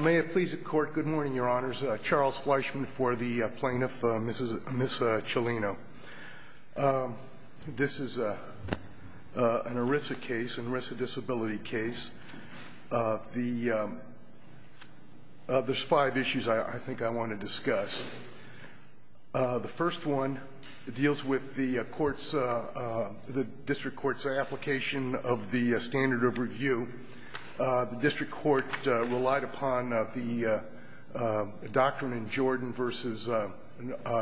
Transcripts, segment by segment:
May it please the court, good morning your honors, Charles Fleischman for the plaintiff, Ms. Chellino. This is an ERISA case, an ERISA disability case. There's five issues I think I want to discuss. The first one deals with the court's, the district court's application of the standard of review. The district court relied upon the doctrine in Jordan v.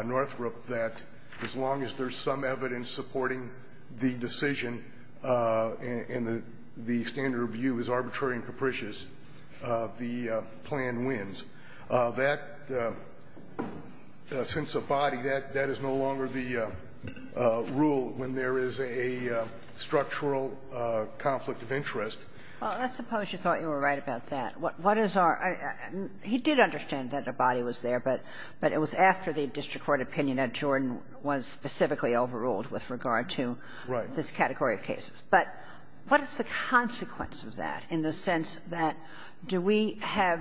Northrop that as long as there's some evidence supporting the decision and the standard of review is arbitrary and capricious, the plan wins. That sense of body, that is no longer the rule when there is a structural conflict of interest. Well, let's suppose you thought you were right about that. What is our, he did understand that a body was there, but it was after the district court opinion that Jordan was specifically overruled with regard to this category of cases. But what is the consequence of that in the sense that do we have,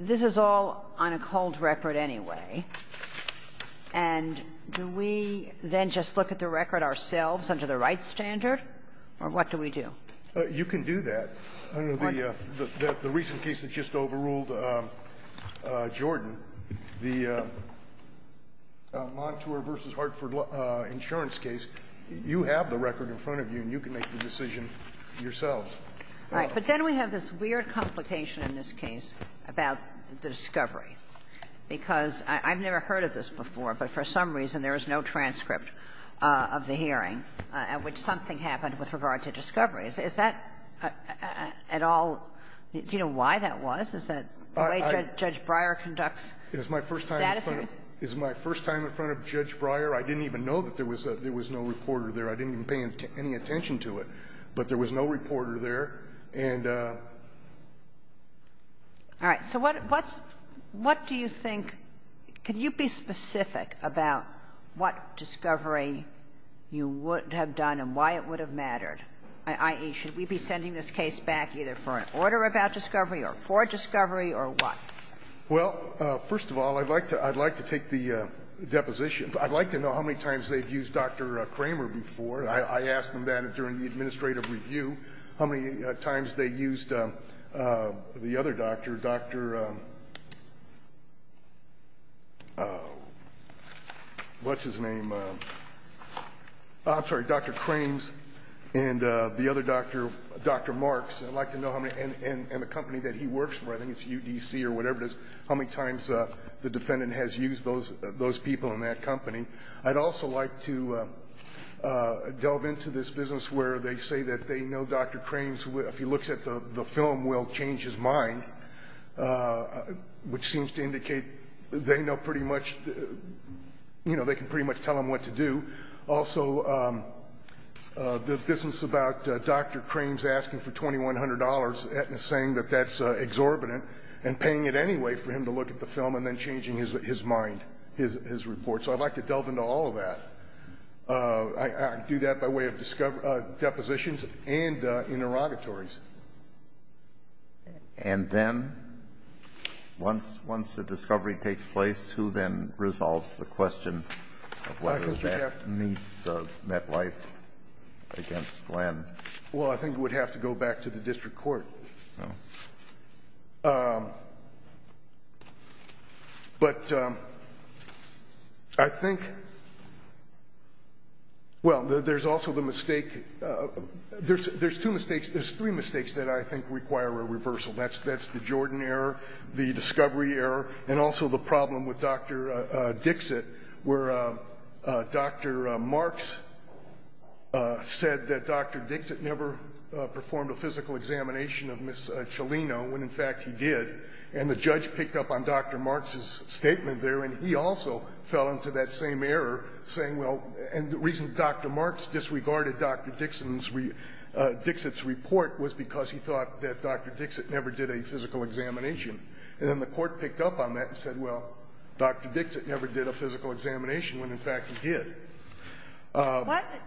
this is all on a cold record anyway, and do we then just look at the record ourselves under the right standard, or what do we do? You can do that. The recent case that just overruled Jordan, the Montour v. Hartford insurance case, you have the record in front of you, and you can make the decision yourself. All right. But then we have this weird complication in this case about the discovery, because I've never heard of this before, but for some reason there is no transcript of the hearing at which something happened with regard to discovery. Is that at all do you know why that was? Is that the way Judge Breyer conducts status review? It's my first time in front of Judge Breyer. I didn't even know that there was no reporter there. I didn't even pay any attention to it. But there was no reporter there. And so what's, what do you think, can you be specific about what discovery you would have done and why it would have mattered, i.e., should we be sending this case back either for an order about discovery or for discovery or what? Well, first of all, I'd like to take the deposition. I'd like to know how many times they've used Dr. Kramer before. I asked them that during the administrative review, how many times they used the other doctor, Dr. what's-his-name, I'm sorry, Dr. Krams, and the other doctor, Dr. Marks, and I'd like to know how many, and the company that he works for, I think it's UDC or whatever it is, how many times the defendant has used those people in that company, I'd also like to delve into this business where they say that they know Dr. Krams, if he looks at the film, will change his mind, which seems to indicate they know pretty much, you know, they can pretty much tell him what to do. Also, the business about Dr. Krams asking for $2,100 and saying that that's exorbitant and paying it anyway for him to look at the film and then changing his report, so I'd like to delve into all of that. I do that by way of depositions and interrogatories. And then, once the discovery takes place, who then resolves the question of whether that meets MetLife against Glenn? Well, I think it would have to go back to the district court. But I think, well, there's also the mistake, there's two mistakes, there's three mistakes that I think require a reversal, that's the Jordan error, the discovery error, and also the problem with Dr. Dixit where Dr. Marks said that Dr. Dixit never performed a physical examination of Ms. Cialino when, in fact, he did. And the judge picked up on Dr. Marks' statement there, and he also fell into that same error, saying, well, and the reason Dr. Marks disregarded Dr. Dixon's report was because he thought that Dr. Dixit never did a physical examination. And then the court picked up on that and said, well, Dr. Dixit never did a physical examination when, in fact, he did.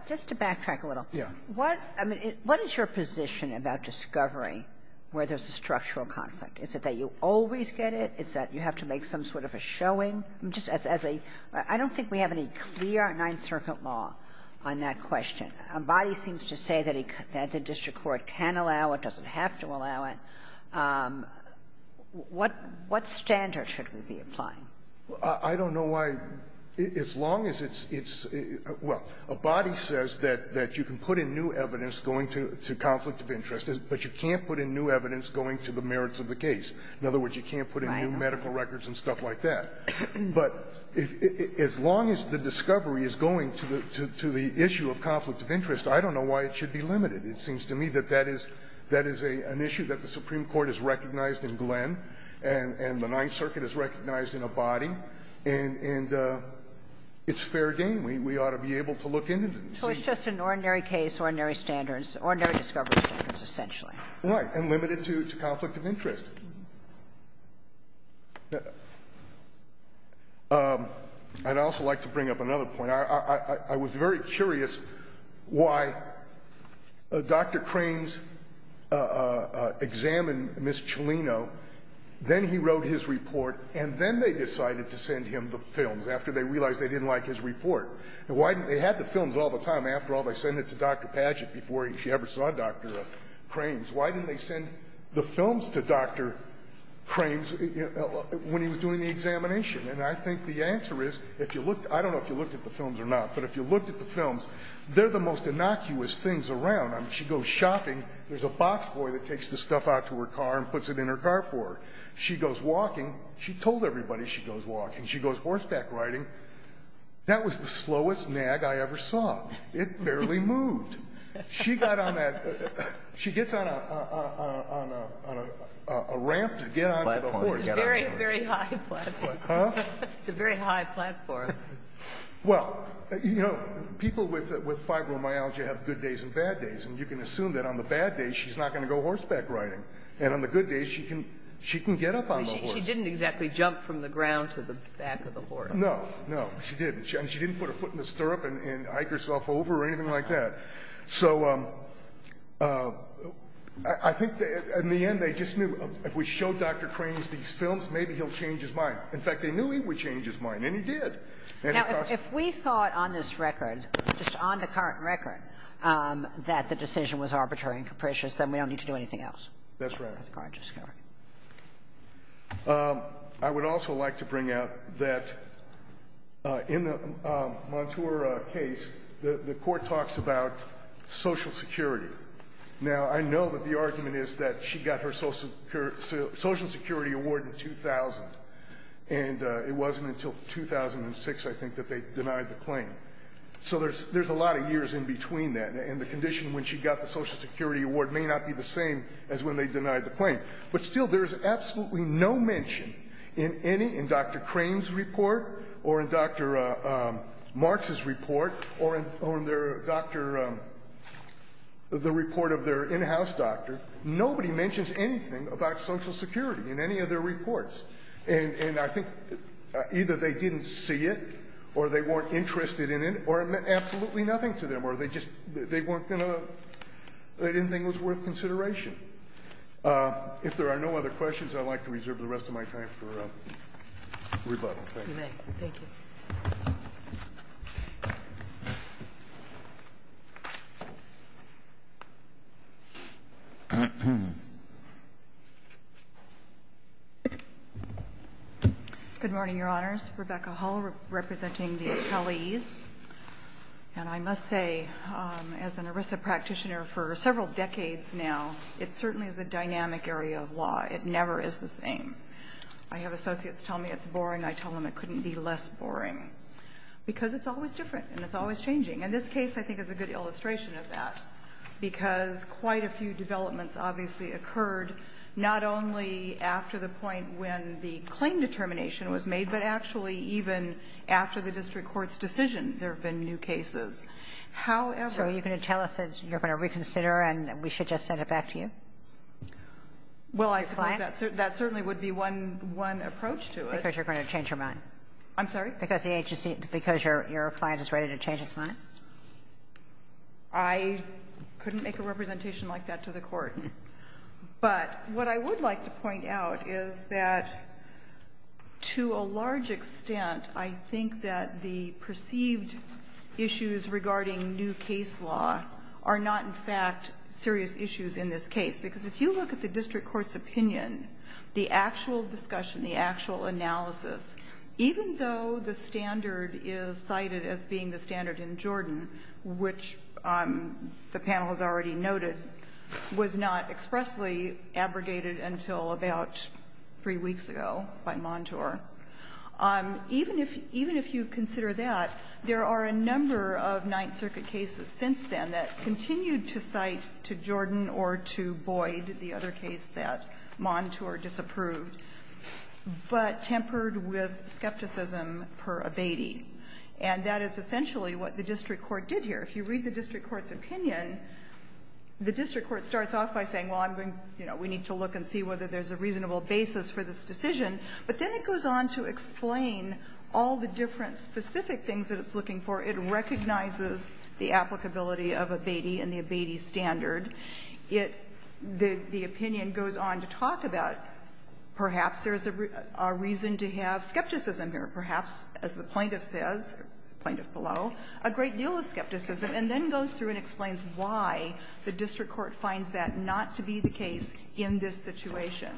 Just to backtrack a little, what is your position about discovery where there's a structural conflict? Is it that you always get it? Is that you have to make some sort of a showing? Just as a — I don't think we have any clear Ninth Circuit law on that question. Body seems to say that the district court can allow it, doesn't have to allow it. What standard should we be applying? I don't know why, as long as it's — well, a body says that you can put in new evidence going to conflict of interest, but you can't put in new evidence going to the merits of the case. In other words, you can't put in new medical records and stuff like that. But as long as the discovery is going to the issue of conflict of interest, I don't know why it should be limited. It seems to me that that is an issue that the Supreme Court has recognized in Glenn, and the Ninth Circuit has recognized in a body. And it's fair game. We ought to be able to look into this. So it's just an ordinary case, ordinary standards, ordinary discovery standards, essentially. Right. And limited to conflict of interest. I'd also like to bring up another point. I was very curious why Dr. Crames examined Ms. Cellino, then he wrote his report, and then they decided to send him the films after they realized they didn't like his report. Why didn't they — they had the films all the time. After all, they sent it to Dr. Padgett before she ever saw Dr. Crames. Why didn't they send the films to Dr. Crames when he was doing the examination? And I think the answer is, if you looked — I don't know if you looked at the films or not, but if you looked at the films, they're the most innocuous things around. I mean, she goes shopping, there's a box boy that takes the stuff out to her car and puts it in her car for her. She goes walking. She told everybody she goes walking. She goes horseback riding. That was the slowest nag I ever saw. It barely moved. She got on that — she gets on a ramp to get on to the horse. It's a very high platform. Well, you know, people with fibromyalgia have good days and bad days, and you can assume that on the bad days she's not going to go horseback riding, and on the good days she can get up on the horse. She didn't exactly jump from the ground to the back of the horse. No, no, she didn't. And she didn't put her foot in the stirrup and hike herself over or anything like that. So I think in the end they just knew if we showed Dr. Cranes these films, maybe he'll change his mind. In fact, they knew he would change his mind, and he did. Now, if we thought on this record, just on the current record, that the decision was arbitrary and capricious, then we don't need to do anything else. That's right. That's a gorgeous story. I would also like to bring out that in the Montour case, the court talks about social security. Now, I know that the argument is that she got her Social Security Award in 2000, and it wasn't until 2006, I think, that they denied the claim. So there's a lot of years in between that, and the condition when she got the Social Security Award may not be the same as when they denied the claim. But still, there's absolutely no mention in Dr. Cranes' report or in Dr. March's report or in the report of their in-house doctor, nobody mentions anything about Social Security in any of their reports. And I think either they didn't see it, or they weren't interested in it, or it meant absolutely nothing to them, or they didn't think it was worth consideration. If there are no other questions, I'd like to reserve the rest of my time for rebuttal. Thank you. You may. Thank you. Good morning, Your Honors. Rebecca Hull, representing the accolades, and I must say, as an ERISA practitioner for several decades now, it certainly is a dynamic area of law. It never is the same. I have associates tell me it's boring. I tell them it couldn't be less boring, because it's always different, and it's always changing. And this case, I think, is a good illustration of that, because quite a few developments, obviously, occurred not only after the point when the claim determination was made, but actually even after the district court's decision, there have been new cases. However ---- So you're going to tell us that you're going to reconsider, and we should just send it back to you? Well, I suppose that certainly would be one approach to it. Because you're going to change your mind. I'm sorry? Because the agency ---- because your client is ready to change his mind? I couldn't make a representation like that to the Court. But what I would like to point out is that, to a large extent, I think that the perceived issues regarding new case law are not, in fact, serious issues in this case. Because if you look at the district court's opinion, the actual discussion, the actual analysis, even though the standard is cited as being the standard in Jordan, which the panel has already noted, was not expressly abrogated until about three weeks ago by Montour, even if you consider that, there are some or a number of Ninth Circuit cases since then that continued to cite to Jordan or to Boyd the other case that Montour disapproved, but tempered with skepticism per abeti. And that is essentially what the district court did here. If you read the district court's opinion, the district court starts off by saying, well, I'm going to ---- you know, we need to look and see whether there's a reasonable basis for this decision, but then it goes on to explain all the different specific things that it's looking for. It recognizes the applicability of abeti and the abeti standard. It ---- the opinion goes on to talk about perhaps there's a reason to have skepticism here, perhaps, as the plaintiff says, plaintiff below, a great deal of skepticism, and then goes through and explains why the district court finds that not to be the case in this situation.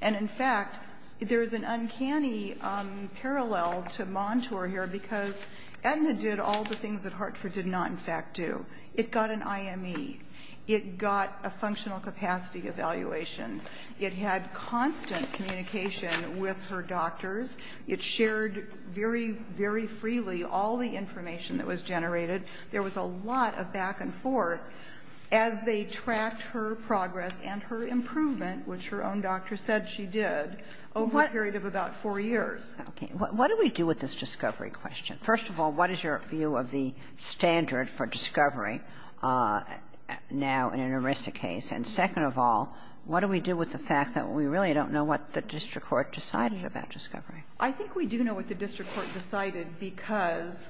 And, in fact, there's an uncanny parallel to Montour here because Aetna did all the things that Hartford did not, in fact, do. It got an IME. It got a functional capacity evaluation. It had constant communication with her doctors. It shared very, very freely all the information that was generated. There was a lot of back and forth as they tracked her progress and her improvement, which her own doctor said she did, over a period of about four years. Okay. What do we do with this discovery question? First of all, what is your view of the standard for discovery now in an ERISA case? And, second of all, what do we do with the fact that we really don't know what the district court decided about discovery? I think we do know what the district court decided because,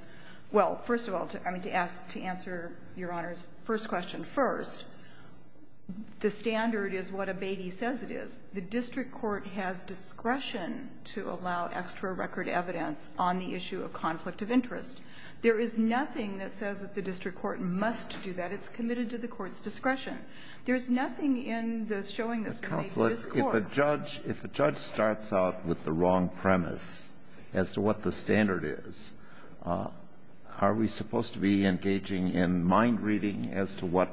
well, first of all, to answer Your Honor's first question, first, the standard is what Abatey says it is. The district court has discretion to allow extra record evidence on the issue of conflict of interest. There is nothing that says that the district court must do that. It's committed to the court's discretion. There's nothing in the showing this case to this court. Counsel, if a judge starts out with the wrong premise as to what the standard is, are we supposed to be engaging in mind-reading as to what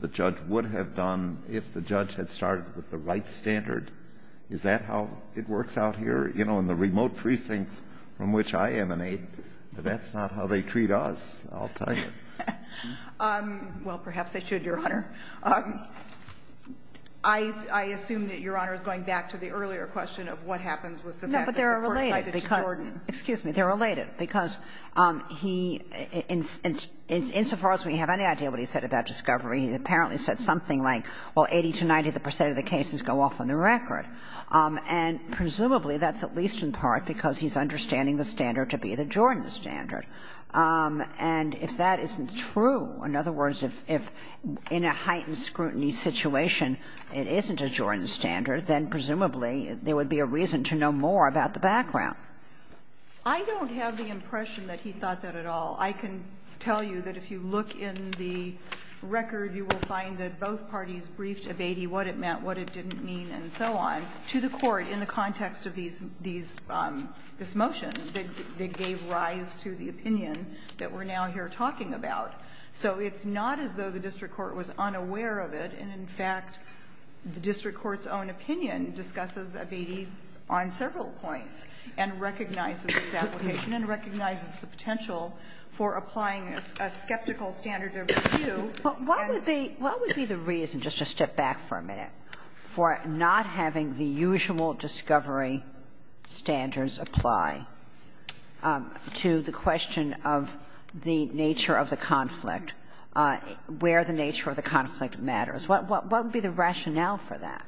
the judge would have done if the judge had started with the right standard? Is that how it works out here? You know, in the remote precincts from which I emanate, that's not how they treat us, I'll tell you. Well, perhaps they should, Your Honor. I assume that Your Honor is going back to the earlier question of what happens with the fact that the court decided to broaden. Excuse me, they're related. Because he, insofar as we have any idea what he said about discovery, he apparently said something like, well, 80 to 90 percent of the cases go off on the record. And presumably that's at least in part because he's understanding the standard to be the Jordan standard. And if that isn't true, in other words, if in a heightened scrutiny situation it isn't a Jordan standard, then presumably there would be a reason to know more about the background. I don't have the impression that he thought that at all. I can tell you that if you look in the record, you will find that both parties briefed Avedi what it meant, what it didn't mean, and so on, to the court in the context of these, this motion. They gave rise to the opinion that we're now here talking about. So it's not as though the district court was unaware of it. And in fact, the district court's own opinion discusses Avedi on several points. And recognizes its application and recognizes the potential for applying a skeptical standard of review. Kagan. But what would be the reason, just to step back for a minute, for not having the usual discovery standards apply to the question of the nature of the conflict, where the nature of the conflict matters? What would be the rationale for that?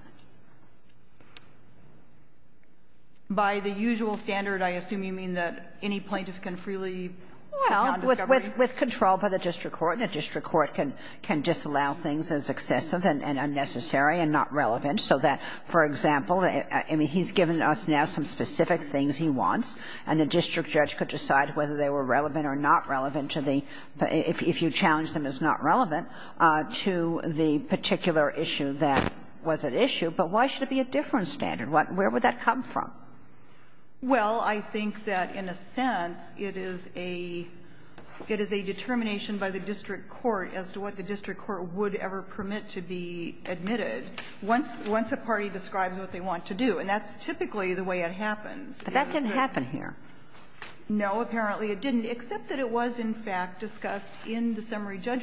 By the usual standard, I assume you mean that any plaintiff can freely non-discovery? Well, with control by the district court. And a district court can disallow things as excessive and unnecessary and not relevant. So that, for example, I mean, he's given us now some specific things he wants. And the district judge could decide whether they were relevant or not relevant to the, if you challenge them as not relevant, to the particular issue that was at issue. But why should it be a different standard? Where would that come from? Well, I think that, in a sense, it is a determination by the district court as to what the district court would ever permit to be admitted once a party describes what they want to do. And that's typically the way it happens. But that didn't happen here. No, apparently it didn't, except that it was, in fact, discussed in the summary And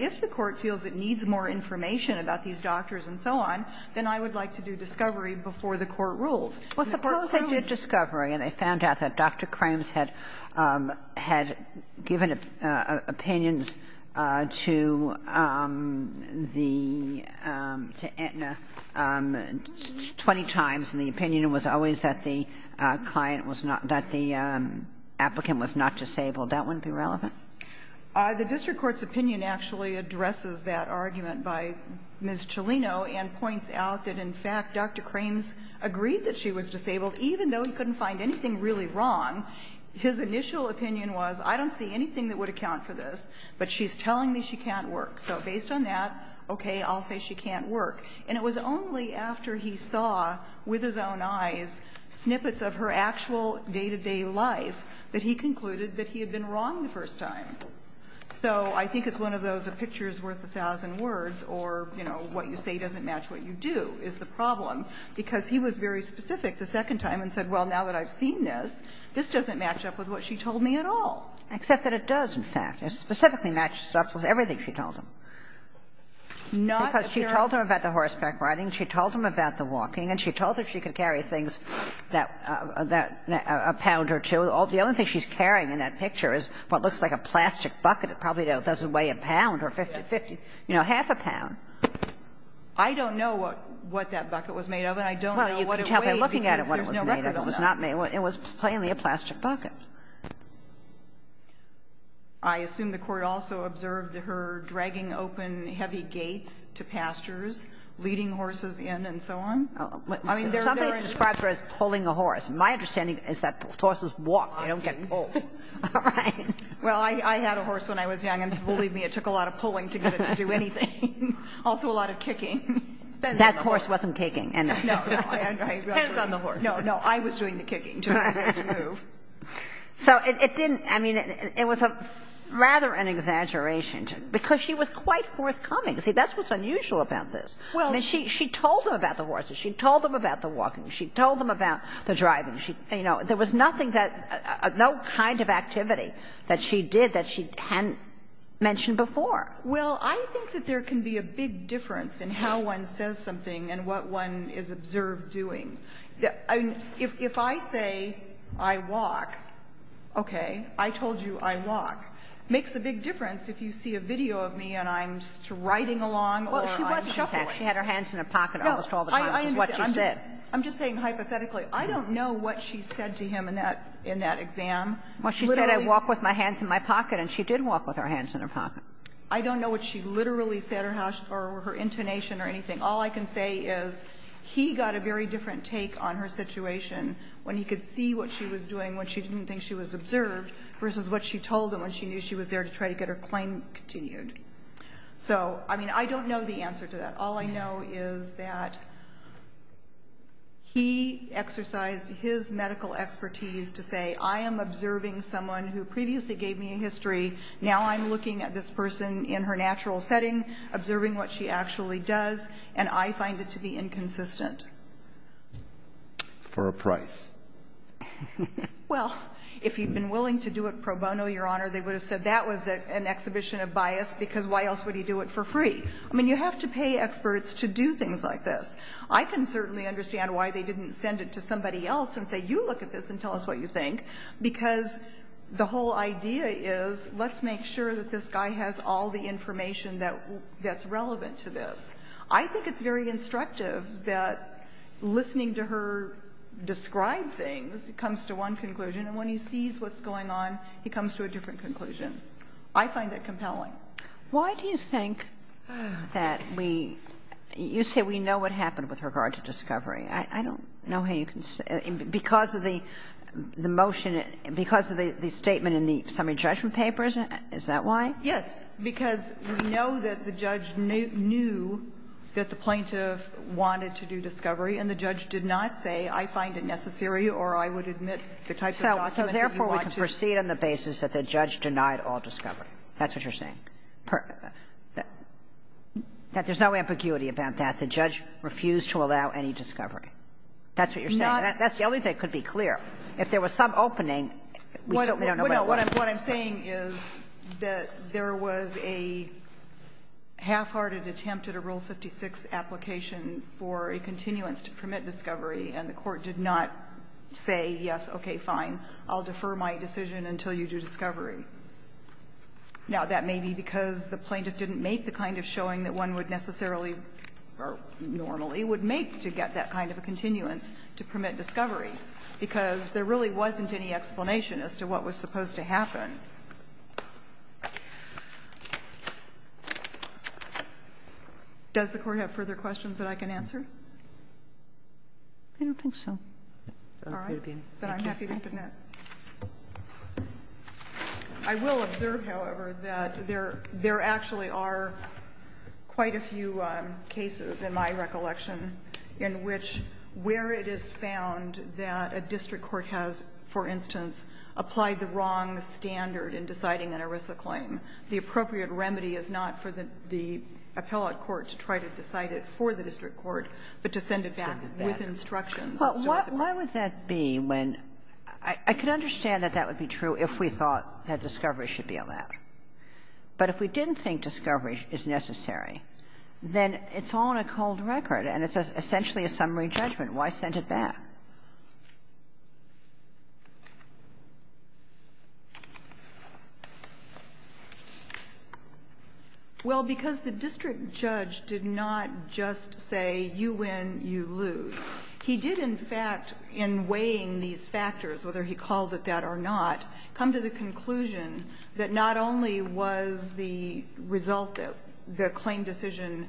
if the court feels it needs more information about these doctors and so on, then I would like to do discovery before the court rules. Well, suppose they did discovery and they found out that Dr. Crams had given opinions to the, to Aetna 20 times. And the opinion was always that the client was not, that the applicant was not disabled. That wouldn't be relevant? The district court's opinion actually addresses that argument by Ms. Cholino and points out that, in fact, Dr. Crams agreed that she was disabled, even though he couldn't find anything really wrong. His initial opinion was, I don't see anything that would account for this, but she's telling me she can't work. So based on that, okay, I'll say she can't work. And it was only after he saw with his own eyes snippets of her actual day-to-day life that he concluded that he had been wrong the first time. So I think it's one of those a picture's worth a thousand words or, you know, what you say doesn't match what you do is the problem, because he was very specific the second time and said, well, now that I've seen this, this doesn't match up with what she told me at all. Except that it does, in fact. It specifically matches up with everything she told him. Because she told him about the horseback riding. She told him about the walking. And she told him she could carry things that, a pound or two. The only thing she's carrying in that picture is what looks like a plastic bucket. It probably doesn't weigh a pound or 50, you know, half a pound. I don't know what that bucket was made of, and I don't know what it weighed. Well, you can tell by looking at it what it was made of. It was not made. It was plainly a plastic bucket. I assume the Court also observed her dragging open heavy gates to pastures, leading horses in and so on? Somebody describes her as pulling a horse. My understanding is that horses walk. They don't get pulled. All right. Well, I had a horse when I was young, and believe me, it took a lot of pulling to get it to do anything. Also a lot of kicking. That horse wasn't kicking. No, no. Hands on the horse. No, no. I was doing the kicking to make it move. So it didn't. I mean, it was rather an exaggeration, because she was quite forthcoming. See, that's what's unusual about this. I mean, she told them about the horses. She told them about the walking. She told them about the driving. You know, there was nothing that no kind of activity that she did that she hadn't mentioned before. Well, I think that there can be a big difference in how one says something and what one is observed doing. If I say I walk, okay, I told you I walk, it makes a big difference if you see a video of me and I'm riding along or I'm shuffling. She had her hands in her pocket almost all the time with what she said. I'm just saying hypothetically, I don't know what she said to him in that exam. Well, she said I walk with my hands in my pocket, and she did walk with her hands in her pocket. I don't know what she literally said or her intonation or anything. All I can say is he got a very different take on her situation when he could see what she was doing when she didn't think she was observed versus what she told him when she knew she was there to try to get her claim continued. So, I mean, I don't know the answer to that. All I know is that he exercised his medical expertise to say I am observing someone who previously gave me a history. Now I'm looking at this person in her natural setting, observing what she actually does, and I find it to be inconsistent. For a price. Well, if he'd been willing to do it pro bono, Your Honor, they would have said that was an exhibition of bias because why else would he do it for free? I mean, you have to pay experts to do things like this. I can certainly understand why they didn't send it to somebody else and say you look at this and tell us what you think, because the whole idea is let's make sure that this guy has all the information that's relevant to this. I think it's very instructive that listening to her describe things comes to one conclusion, and when he sees what's going on, he comes to a different conclusion. I find that compelling. Why do you think that we – you say we know what happened with regard to discovery. I don't know how you can – because of the motion, because of the statement in the summary judgment papers, is that why? Yes, because we know that the judge knew that the plaintiff wanted to do discovery and the judge did not say I find it necessary or I would admit the type of document that you want to – So therefore, we can proceed on the basis that the judge denied all discovery. That's what you're saying. That there's no ambiguity about that. The judge refused to allow any discovery. That's what you're saying. Not – That's the only thing that could be clear. If there was some opening, we certainly don't know what was. What I'm saying is that there was a half-hearted attempt at a Rule 56 application for a continuance to permit discovery, and the Court did not say yes, okay, fine, I'll defer my decision until you do discovery. Now, that may be because the plaintiff didn't make the kind of showing that one would necessarily or normally would make to get that kind of a continuance to permit discovery, because there really wasn't any explanation as to what was supposed to happen. Does the Court have further questions that I can answer? I don't think so. All right. Then I'm happy to submit. I will observe, however, that there actually are quite a few cases, in my recollection, in which where it is found that a district court has, for instance, applied the wrong standard in deciding an ERISA claim, the appropriate remedy is not for the appellate court to try to decide it for the district court, but to send it back with instructions. Well, why would that be when – I can understand that that would be true if we thought that discovery should be allowed, but if we didn't think discovery is necessary, then it's all on a cold record, and it's essentially a summary judgment. Why send it back? Well, because the district judge did not just say, you win, you lose. He did, in fact, in weighing these factors, whether he called it that or not, come to the conclusion that not only was the result of the claim decision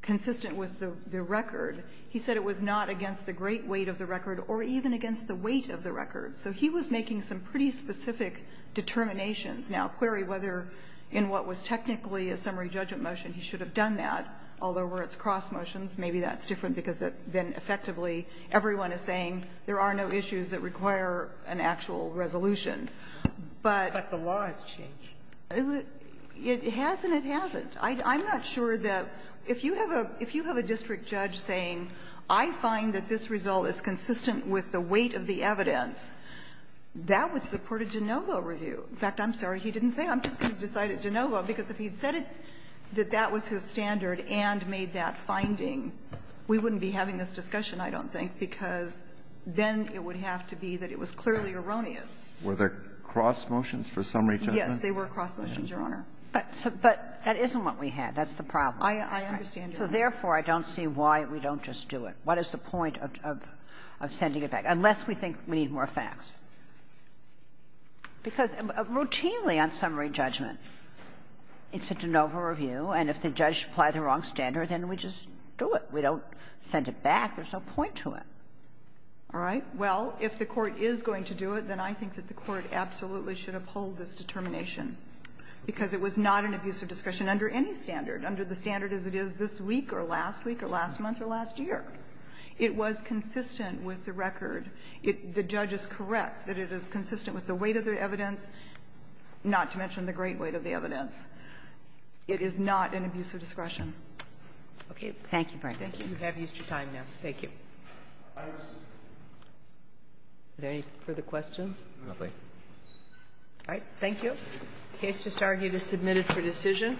consistent with the record, he said it was not against the great weight of the record or even against the weight of the record. So he was making some pretty specific determinations. Now, query whether in what was technically a summary judgment motion he should have done that, although where it's cross motions, maybe that's different because then effectively everyone is saying there are no issues that require an actual resolution. But the law has changed. It has and it hasn't. I'm not sure that if you have a district judge saying, I find that this result is consistent with the weight of the evidence, that would support a de novo review. In fact, I'm sorry, he didn't say. I'm just going to decide it de novo, because if he'd said that that was his standard and made that finding, we wouldn't be having this discussion, I don't think, because then it would have to be that it was clearly erroneous. Were there cross motions for summary judgment? Yes, there were cross motions, Your Honor. But that isn't what we had. That's the problem. I understand, Your Honor. So therefore, I don't see why we don't just do it. What is the point of sending it back, unless we think we need more facts? Because routinely on summary judgment, it's a de novo review, and if the judge applies the wrong standard, then we just do it. We don't send it back. There's no point to it. All right. Well, if the Court is going to do it, then I think that the Court absolutely should uphold this determination, because it was not an abuse of discretion under any standard, under the standard as it is this week or last week or last month or last year. It was consistent with the record. The judge is correct that it is consistent with the weight of the evidence, not to mention the great weight of the evidence. It is not an abuse of discretion. Okay. Thank you, Brenda. Thank you. You have used your time, ma'am. Thank you. Are there any further questions? No, please. All right. Thank you. The case just argued is submitted for decision.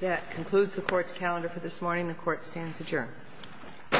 That concludes the Court's calendar for this morning. The Court stands adjourned. All rise. This Court for this session stands adjourned. Thank you.